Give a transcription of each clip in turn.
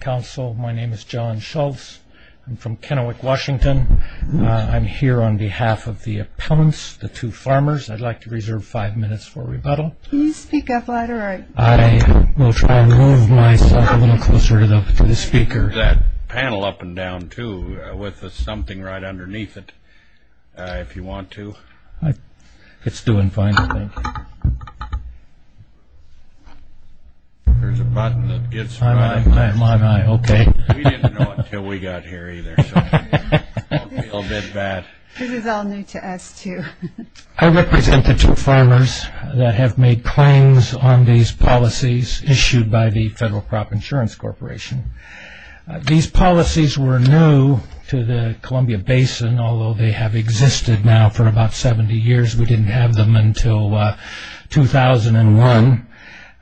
Council, my name is John Schultz. I'm from Kennewick, Washington. I'm here on behalf of the opponents, the two farmers. I'd like to reserve five minutes for rebuttal. Can you speak up louder? I will try to move myself a little closer to the speaker. That panel up and down, too, with something right underneath it, if you want to. It's doing fine, I think. There's a button that gets in the way. I'm on, I'm on, okay. We didn't know it until we got here, either. This is all new to us, too. I represent the two farmers that have made claims on these policies issued by the Federal Crop Insurance Corporation. These policies were new to the Columbia Basin, although they have existed now for about 70 years. We didn't have them until 2001.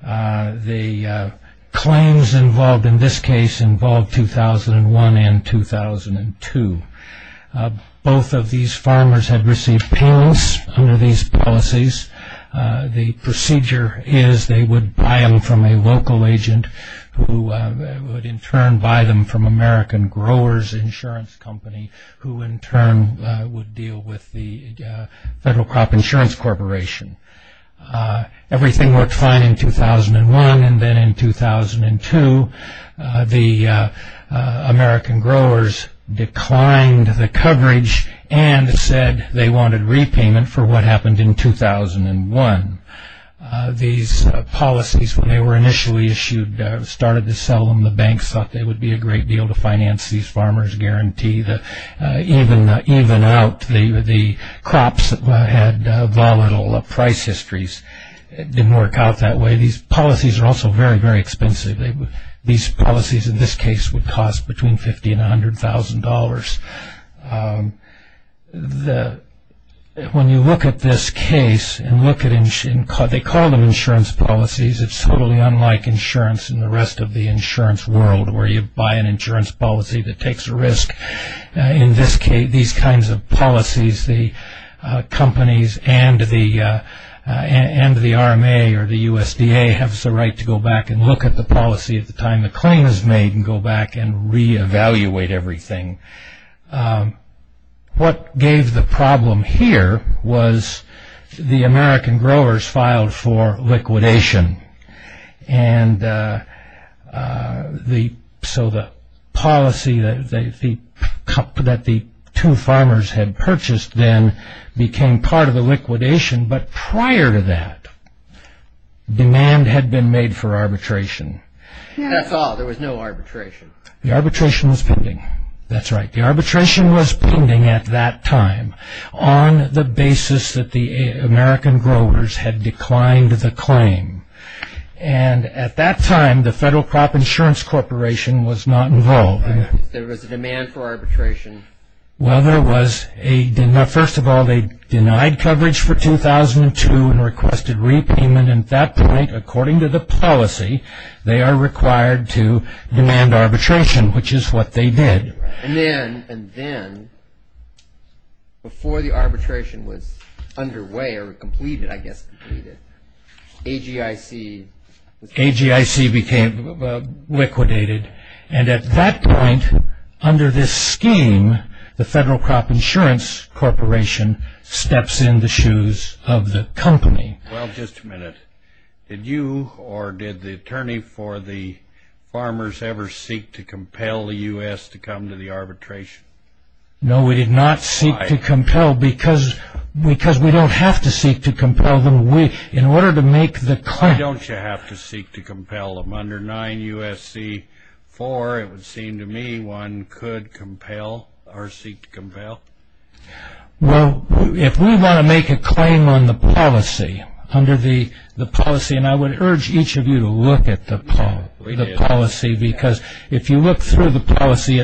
The claims involved in this case involved 2001 and 2002. Both of these farmers have received payments under these policies. The procedure is they would buy them from a local agent, who would in turn buy them from American Growers Insurance Company, who in turn would deal with the Federal Crop Insurance Corporation. Everything worked fine in 2001, and then in 2002, the American Growers declined the coverage and said they wanted repayment for what happened in 2001. These policies, when they were initially issued, started to sell them. The banks thought they would be a great deal to finance these farmers, guarantee that even out the crops that had volatile price histories. It didn't work out that way. These policies are also very, very expensive. These policies in this case would cost between $50,000 and $100,000. When you look at this case and look at it, they call them insurance policies. It's totally unlike insurance in the rest of the insurance world, where you buy an insurance policy that takes a risk. In this case, these kinds of policies, the companies and the RMA or the USDA have the right to go back and look at the policy at the time the claim is made and go back and re-evaluate everything. What gave the problem here was the American Growers filed for liquidation. The policy that the two farmers had purchased then became part of the liquidation, but prior to that, demand had been made for arbitration. That's all? There was no arbitration? The arbitration was pending. That's right. The arbitration was pending at that time on the basis that the American Growers had declined the claim. At that time, the Federal Crop Insurance Corporation was not involved. There was a demand for arbitration? First of all, they denied coverage for 2002 and requested repayment. At that point, according to the policy, they are required to demand arbitration, which is what they did. Then, before the arbitration was underway or completed, I guess completed, AGIC became liquidated. At that point, under this scheme, the Federal Crop Insurance Corporation steps in the shoes of the company. Well, just a minute. Did you or did the attorney for the farmers ever seek to compel the U.S. to come to the arbitration? No, we did not seek to compel because we don't have to seek to compel them. Why don't you have to seek to compel them? Under 9 U.S.C. 4, it would seem to me one could compel or seek to compel. Well, if we want to make a claim on the policy, under the policy, and I would urge each of you to look at the policy because if you look through the policy,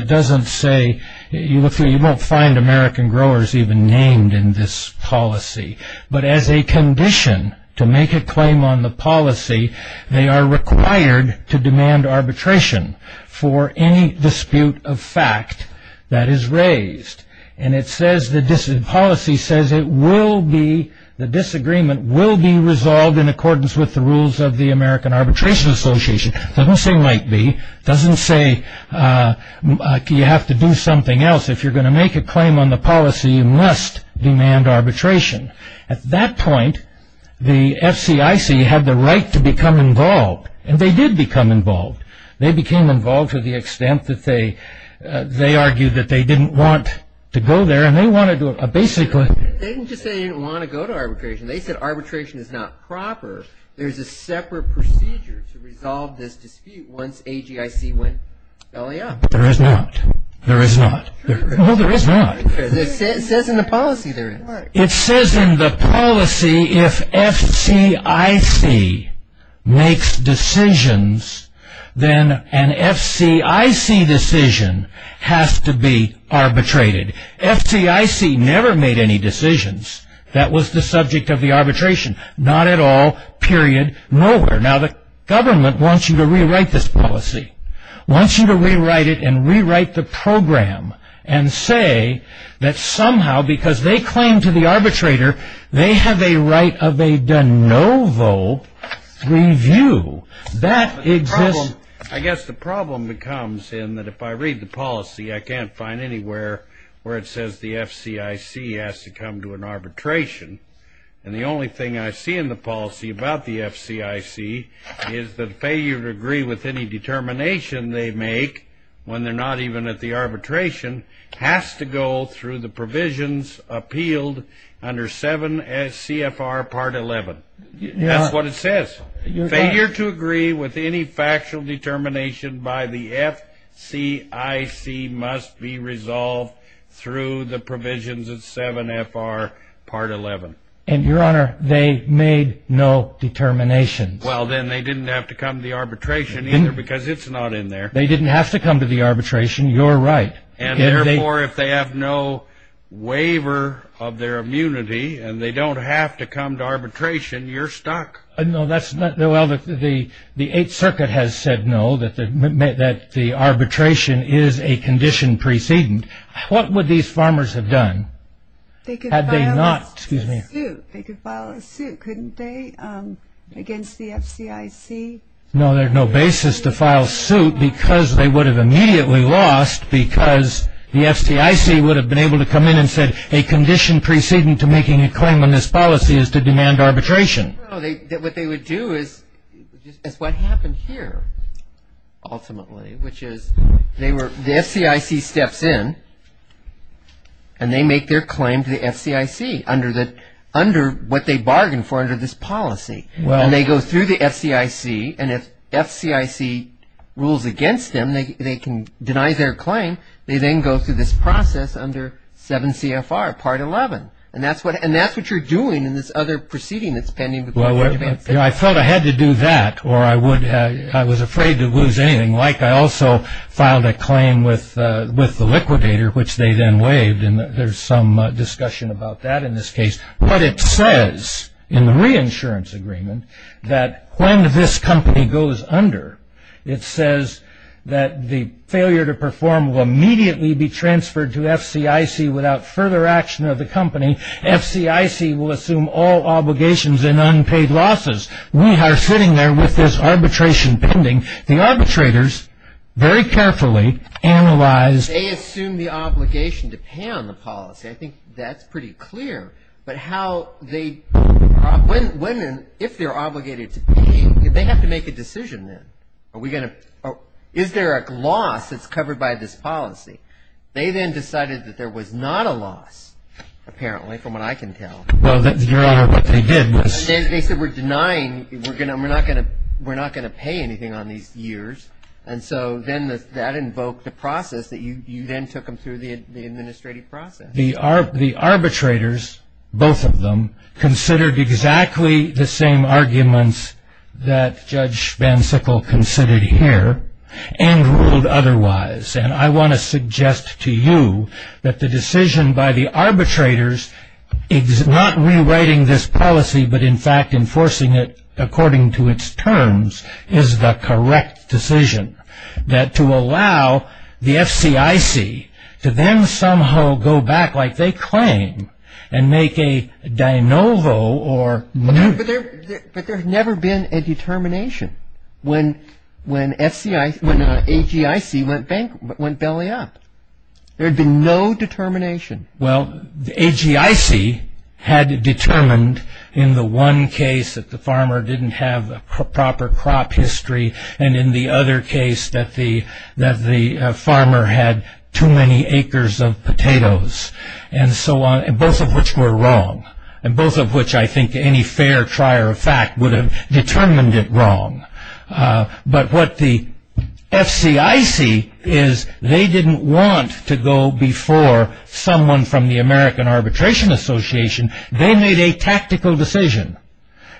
you won't find American growers even named in this policy. But as a condition to make a claim on the policy, they are required to demand arbitration for any dispute of fact that is raised. And the policy says the disagreement will be resolved in accordance with the rules of the American Arbitration Association. It doesn't say might be. It doesn't say you have to do something else. If you're going to make a claim on the policy, you must demand arbitration. At that point, the FCIC had the right to become involved, and they did become involved. They became involved to the extent that they argued that they didn't want to go there, and they wanted to basically They didn't just say they didn't want to go to arbitration. They said arbitration is not proper. There's a separate procedure to resolve this dispute once AGIC went belly up. There is not. There is not. It says in the policy there is. It says in the policy if FCIC makes decisions, then an FCIC decision has to be arbitrated. FCIC never made any decisions that was the subject of the arbitration. Not at all. Period. Nowhere. Now the government wants you to rewrite this policy. Wants you to rewrite it and rewrite the program and say that somehow, because they claim to the arbitrator, they have a right of a de novo review. That exists. I guess the problem becomes in that if I read the policy, I can't find anywhere where it says the FCIC has to come to an arbitration. And the only thing I see in the policy about the FCIC is that failure to agree with any determination they make, when they're not even at the arbitration, has to go through the provisions appealed under 7 CFR Part 11. That's what it says. Failure to agree with any factual determination by the FCIC must be resolved through the provisions of 7 FR Part 11. And, Your Honor, they made no determinations. Well, then they didn't have to come to the arbitration either because it's not in there. They didn't have to come to the arbitration. You're right. And, therefore, if they have no waiver of their immunity and they don't have to come to arbitration, you're stuck. No, that's not. Well, the Eighth Circuit has said no, that the arbitration is a condition precedent. What would these farmers have done? They could file a suit. Excuse me. They could file a suit, couldn't they, against the FCIC? No, there's no basis to file suit because they would have immediately lost because the FCIC would have been able to come in and said a condition precedent to making a claim on this policy is to demand arbitration. No, what they would do is what happened here, ultimately, which is the FCIC steps in and they make their claim to the FCIC under what they bargained for under this policy. And they go through the FCIC, and if FCIC rules against them, they can deny their claim. They then go through this process under 7 CFR Part 11. And that's what you're doing in this other proceeding that's pending. I felt I had to do that or I was afraid to lose anything. Like I also filed a claim with the liquidator, which they then waived, and there's some discussion about that in this case. But it says in the reinsurance agreement that when this company goes under, it says that the failure to perform will immediately be transferred to FCIC without further action of the company. FCIC will assume all obligations and unpaid losses. We are sitting there with this arbitration pending. The arbitrators very carefully analyzed. They assume the obligation to pay on the policy. I think that's pretty clear. But how they, when and if they're obligated to pay, they have to make a decision then. Are we going to, is there a loss that's covered by this policy? They then decided that there was not a loss, apparently, from what I can tell. Well, Your Honor, what they did was. They said we're denying, we're not going to pay anything on these years. And so then that invoked a process that you then took them through the administrative process. And the arbitrators, both of them, considered exactly the same arguments that Judge Van Sickle considered here and ruled otherwise. And I want to suggest to you that the decision by the arbitrators is not rewriting this policy, but in fact enforcing it according to its terms is the correct decision. That to allow the FCIC to then somehow go back like they claim and make a de novo or. But there had never been a determination when AGIC went belly up. There had been no determination. Well, AGIC had determined in the one case that the farmer didn't have a proper crop history and in the other case that the farmer had too many acres of potatoes and so on, both of which were wrong. And both of which I think any fair trier of fact would have determined it wrong. But what the FCIC is, they didn't want to go before someone from the American Arbitration Association. They made a tactical decision.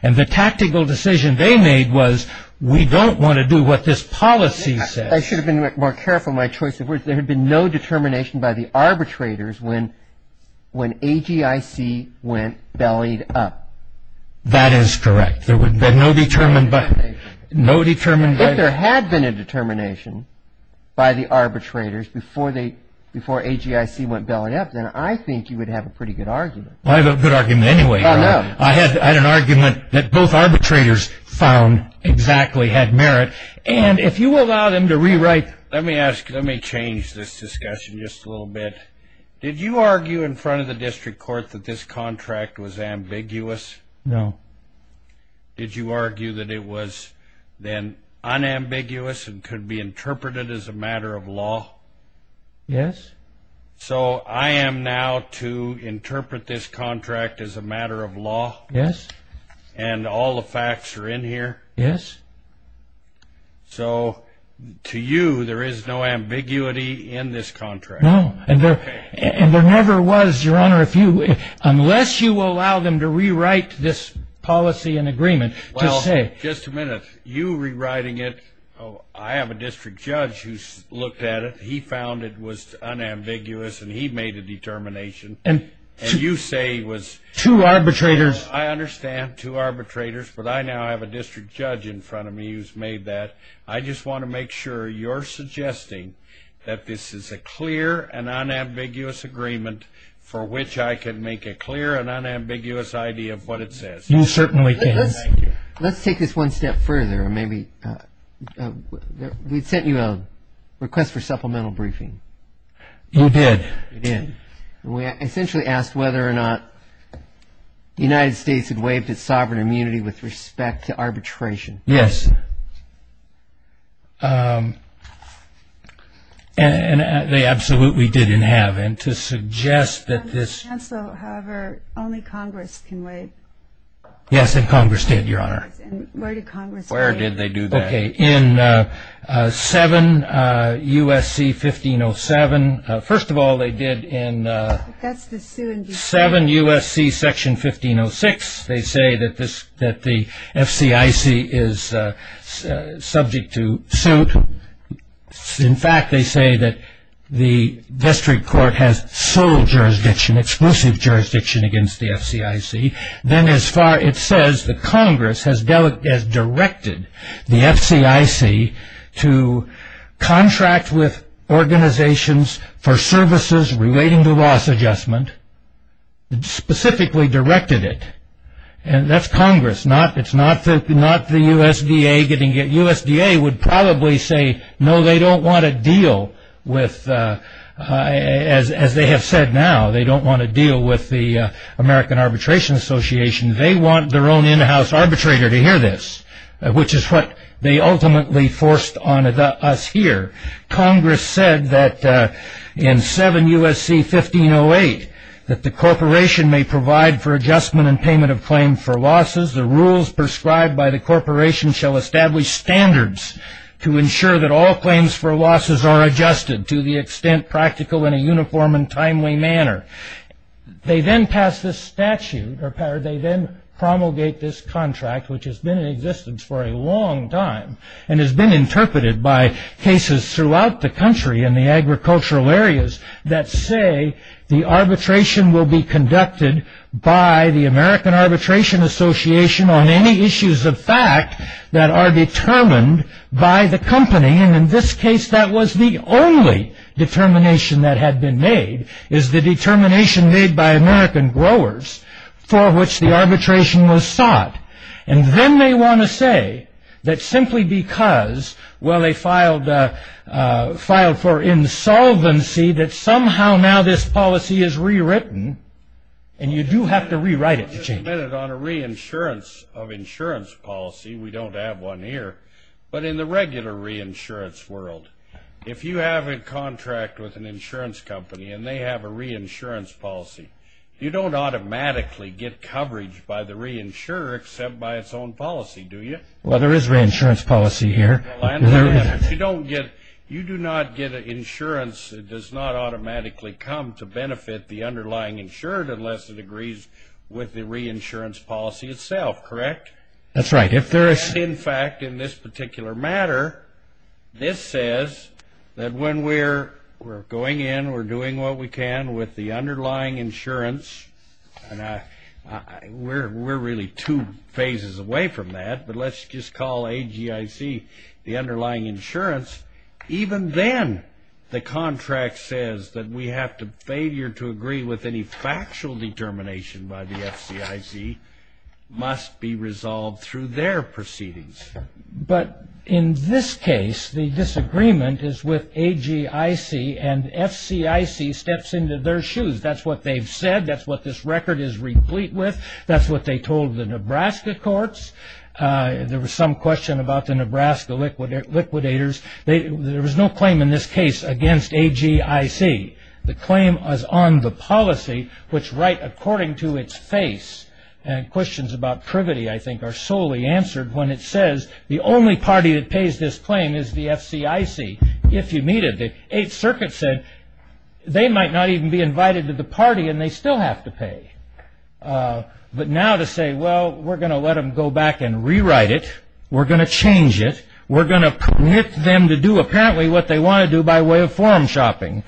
And the tactical decision they made was we don't want to do what this policy says. I should have been more careful in my choice of words. There had been no determination by the arbitrators when AGIC went bellied up. That is correct. There had been no determination. If there had been a determination by the arbitrators before AGIC went belly up, then I think you would have a pretty good argument. I have a good argument anyway. I had an argument that both arbitrators found exactly had merit. And if you allow them to rewrite... Let me change this discussion just a little bit. Did you argue in front of the district court that this contract was ambiguous? No. Did you argue that it was then unambiguous and could be interpreted as a matter of law? Yes. So I am now to interpret this contract as a matter of law? Yes. And all the facts are in here? Yes. So to you, there is no ambiguity in this contract? No. And there never was, Your Honor, unless you allow them to rewrite this policy and agreement to say... Well, just a minute. You rewriting it, I have a district judge who's looked at it. He found it was unambiguous, and he made a determination. And you say it was... Two arbitrators. I understand, two arbitrators. But I now have a district judge in front of me who's made that. I just want to make sure you're suggesting that this is a clear and unambiguous agreement for which I can make a clear and unambiguous idea of what it says. You certainly can. Let's take this one step further. We sent you a request for supplemental briefing. You did. We did. And we essentially asked whether or not the United States had waived its sovereign immunity with respect to arbitration. Yes. And they absolutely didn't have. And to suggest that this... Your Honor, only Congress can waive. Yes, and Congress did, Your Honor. Where did Congress do that? Where did they do that? Okay, in 7 U.S.C. 1507. First of all, they did in 7 U.S.C. Section 1506. They say that the FCIC is subject to suit. In fact, they say that the district court has sole jurisdiction, exclusive jurisdiction against the FCIC. Then as far as it says, the Congress has directed the FCIC to contract with organizations for services relating to loss adjustment. It specifically directed it. And that's Congress, not the USDA. USDA would probably say, no, they don't want to deal with, as they have said now, they don't want to deal with the American Arbitration Association. They want their own in-house arbitrator to hear this, which is what they ultimately forced on us here. Congress said that in 7 U.S.C. 1508, that the corporation may provide for adjustment and payment of claim for losses. The rules prescribed by the corporation shall establish standards to ensure that all claims for losses are adjusted to the extent practical in a uniform and timely manner. They then pass this statute, or they then promulgate this contract, which has been in existence for a long time and has been interpreted by cases throughout the country in the agricultural areas that say the arbitration will be conducted by the American Arbitration Association on any issues of fact that are determined by the company. And in this case, that was the only determination that had been made, is the determination made by American growers for which the arbitration was sought. And then they want to say that simply because, well, they filed for insolvency, that somehow now this policy is rewritten, and you do have to rewrite it to change it. On a reinsurance of insurance policy, we don't have one here, but in the regular reinsurance world, if you have a contract with an insurance company and they have a reinsurance policy, you don't automatically get coverage by the reinsurer except by its own policy, do you? Well, there is reinsurance policy here. You do not get insurance that does not automatically come to benefit the underlying insured unless it agrees with the reinsurance policy itself, correct? That's right. In fact, in this particular matter, this says that when we're going in, we're doing what we can with the underlying insurance, and we're really two phases away from that, but let's just call AGIC the underlying insurance. Even then, the contract says that we have to, failure to agree with any factual determination by the FCIC must be resolved through their proceedings. But in this case, the disagreement is with AGIC, and FCIC steps into their shoes. That's what they've said. That's what this record is replete with. That's what they told the Nebraska courts. There was some question about the Nebraska liquidators. There was no claim in this case against AGIC. The claim was on the policy, which right according to its face, and questions about privity, I think, are solely answered when it says, the only party that pays this claim is the FCIC, if you meet it. The Eighth Circuit said they might not even be invited to the party, and they still have to pay. But now to say, well, we're going to let them go back and rewrite it. We're going to change it. We're going to permit them to do apparently what they want to do by way of forum shopping.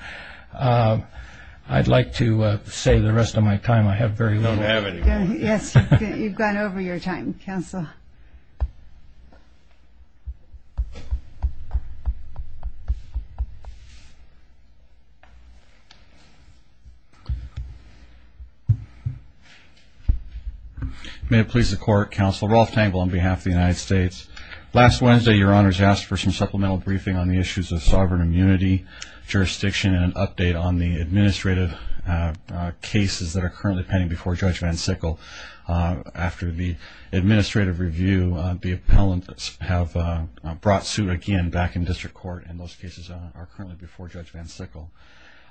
I'd like to save the rest of my time. I have very little. You don't have any more. Yes, you've gone over your time, Counsel. May it please the Court, Counsel, Rolf Tangle on behalf of the United States. Last Wednesday, Your Honors asked for some supplemental briefing on the issues of sovereign immunity, jurisdiction, and an update on the administrative cases that are currently pending before Judge Van Sickle. After the administrative review, the appellants have brought suit again back in district court, and those cases are currently before Judge Van Sickle.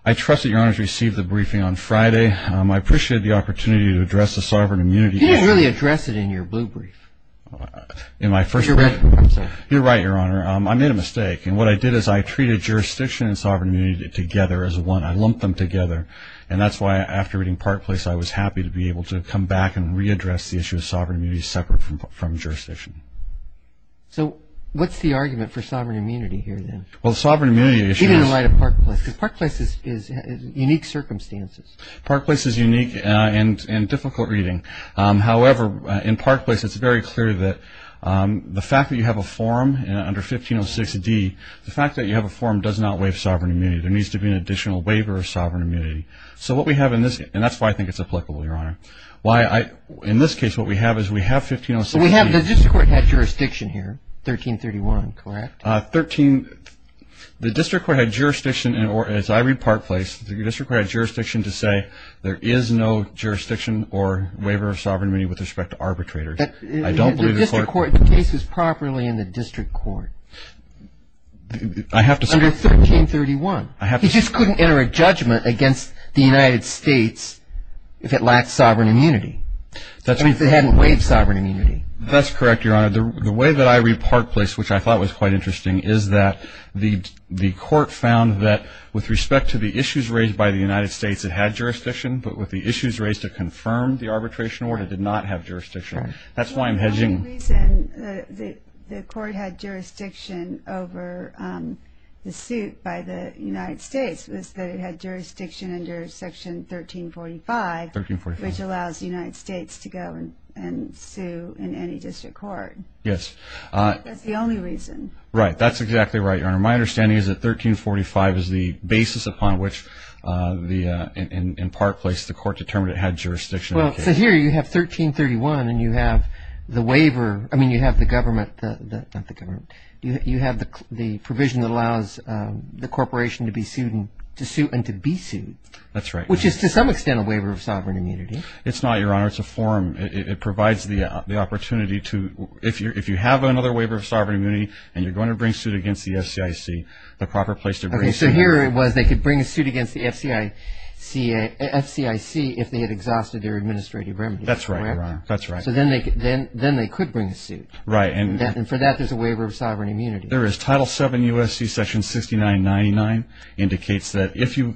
I trust that Your Honors received the briefing on Friday. I appreciated the opportunity to address the sovereign immunity. He didn't really address it in your blue brief. You're right, Your Honor. I made a mistake. And what I did is I treated jurisdiction and sovereign immunity together as one. I lumped them together. And that's why after reading Park Place, I was happy to be able to come back and readdress the issue of sovereign immunity separate from jurisdiction. So what's the argument for sovereign immunity here then? Well, the sovereign immunity issue is- Even in light of Park Place, because Park Place is unique circumstances. Park Place is unique and difficult reading. However, in Park Place, it's very clear that the fact that you have a forum under 1506D, the fact that you have a forum does not waive sovereign immunity. There needs to be an additional waiver of sovereign immunity. So what we have in this-and that's why I think it's applicable, Your Honor. In this case, what we have is we have 1506D- So we have the district court had jurisdiction here, 1331, correct? The district court had jurisdiction, as I read Park Place, the district court had jurisdiction to say there is no jurisdiction or waiver of sovereign immunity with respect to arbitrators. I don't believe- The district court-the case was properly in the district court. I have to say- Under 1331. I have to say- He just couldn't enter a judgment against the United States if it lacked sovereign immunity. I mean, if it hadn't waived sovereign immunity. That's correct, Your Honor. The way that I read Park Place, which I thought was quite interesting, is that the court found that with respect to the issues raised by the United States, it had jurisdiction, but with the issues raised to confirm the arbitration order, it did not have jurisdiction. That's why I'm hedging- The only reason the court had jurisdiction over the suit by the United States was that it had jurisdiction under Section 1345, which allows the United States to go and sue in any district court. Yes. That's the only reason. Right. That's exactly right, Your Honor. My understanding is that 1345 is the basis upon which, in Park Place, the court determined it had jurisdiction. Well, so here you have 1331, and you have the waiver-I mean, you have the government-not the government. You have the provision that allows the corporation to be sued and to be sued. That's right. Which is, to some extent, a waiver of sovereign immunity. It's not, Your Honor. It's a form. It provides the opportunity to-if you have another waiver of sovereign immunity and you're going to bring suit against the FCIC, the proper place to bring- Okay, so here it was they could bring a suit against the FCIC if they had exhausted their administrative remedies. That's right, Your Honor. That's right. So then they could bring a suit. Right. And for that, there's a waiver of sovereign immunity. There is. Title VII U.S.C. Section 6999 indicates that if you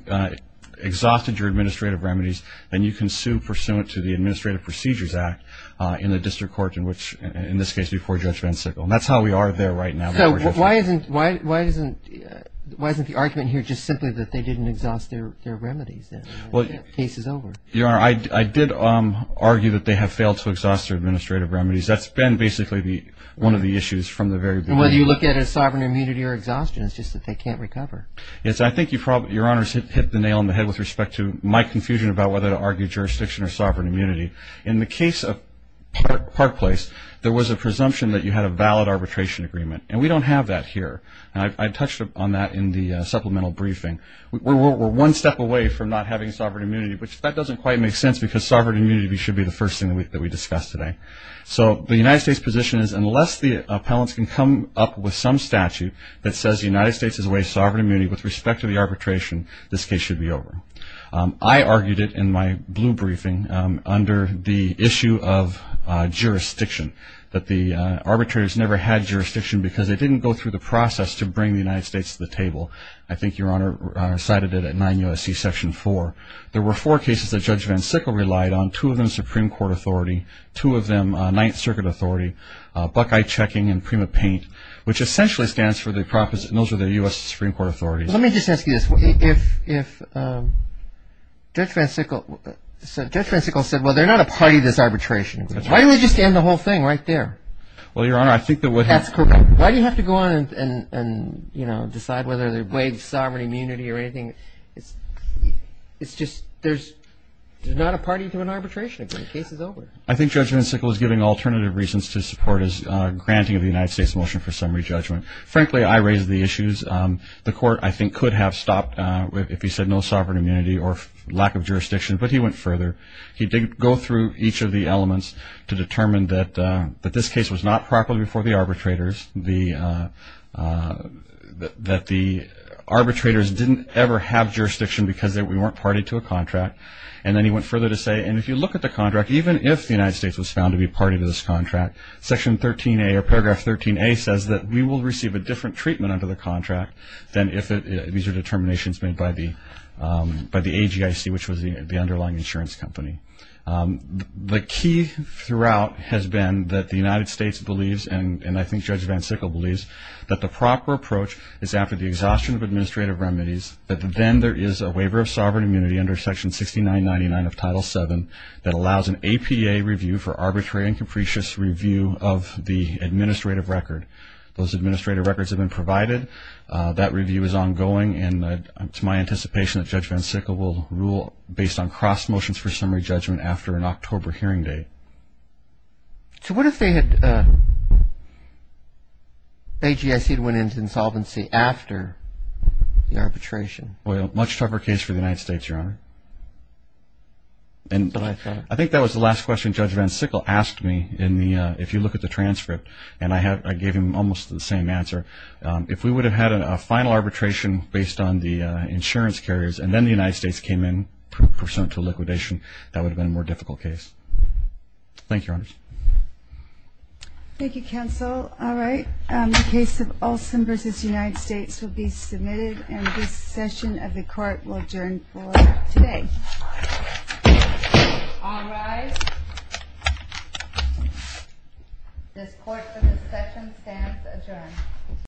exhausted your administrative remedies, then you can sue pursuant to the Administrative Procedures Act in a district court, in which-in this case, before Judge Van Sickle. And that's how we are there right now. So why isn't the argument here just simply that they didn't exhaust their remedies? The case is over. Your Honor, I did argue that they have failed to exhaust their administrative remedies. That's been basically one of the issues from the very beginning. And whether you look at it as sovereign immunity or exhaustion, it's just that they can't recover. Yes. And I think you probably-Your Honor has hit the nail on the head with respect to my confusion about whether to argue jurisdiction or sovereign immunity. In the case of Park Place, there was a presumption that you had a valid arbitration agreement. And we don't have that here. And I touched on that in the supplemental briefing. We're one step away from not having sovereign immunity, which that doesn't quite make sense because sovereign immunity should be the first thing that we discuss today. So the United States position is unless the appellants can come up with some statute that says the United States has waived sovereign immunity with respect to the arbitration, this case should be over. I argued it in my blue briefing under the issue of jurisdiction, that the arbitrators never had jurisdiction because they didn't go through the process to bring the United States to the table. I think Your Honor cited it at 9 U.S.C. Section 4. There were four cases that Judge Van Sickle relied on, two of them Supreme Court authority, two of them Ninth Circuit authority, Buckeye Checking and Prima Paint, which essentially stands for the U.S. Supreme Court authorities. Well, let me just ask you this. If Judge Van Sickle said, well, they're not a party to this arbitration agreement, why don't they just end the whole thing right there? Well, Your Honor, I think that would have... Why do you have to go on and decide whether they waive sovereign immunity or anything? It's just there's not a party to an arbitration agreement. The case is over. I think Judge Van Sickle is giving alternative reasons to support his granting of the United States motion for summary judgment. Frankly, I raised the issues. The Court, I think, could have stopped if he said no sovereign immunity or lack of jurisdiction, but he went further. He did go through each of the elements to determine that this case was not properly before the arbitrators, that the arbitrators didn't ever have jurisdiction because we weren't party to a contract. And then he went further to say, and if you look at the contract, even if the United States was found to be party to this contract, Section 13A, or Paragraph 13A, says that we will receive a different treatment under the contract than if these are determinations made by the AGIC, which was the underlying insurance company. The key throughout has been that the United States believes, and I think Judge Van Sickle believes, that the proper approach is after the exhaustion of administrative remedies, that then there is a waiver of sovereign immunity under Section 6999 of Title VII that allows an APA review for arbitrary and capricious review of the administrative record. Those administrative records have been provided. That review is ongoing, and it's my anticipation that Judge Van Sickle will rule based on cross motions for summary judgment after an October hearing date. So what if they had, AGIC had went into insolvency after the arbitration? Well, much tougher case for the United States, Your Honor. I think that was the last question Judge Van Sickle asked me in the, if you look at the transcript, and I gave him almost the same answer. If we would have had a final arbitration based on the insurance carriers, and then the United States came in pursuant to liquidation, that would have been a more difficult case. Thank you, Your Honor. Thank you, Counsel. All right, the case of Olson v. United States will be submitted, and this session of the Court will adjourn for today. All rise. This Court for this session stands adjourned.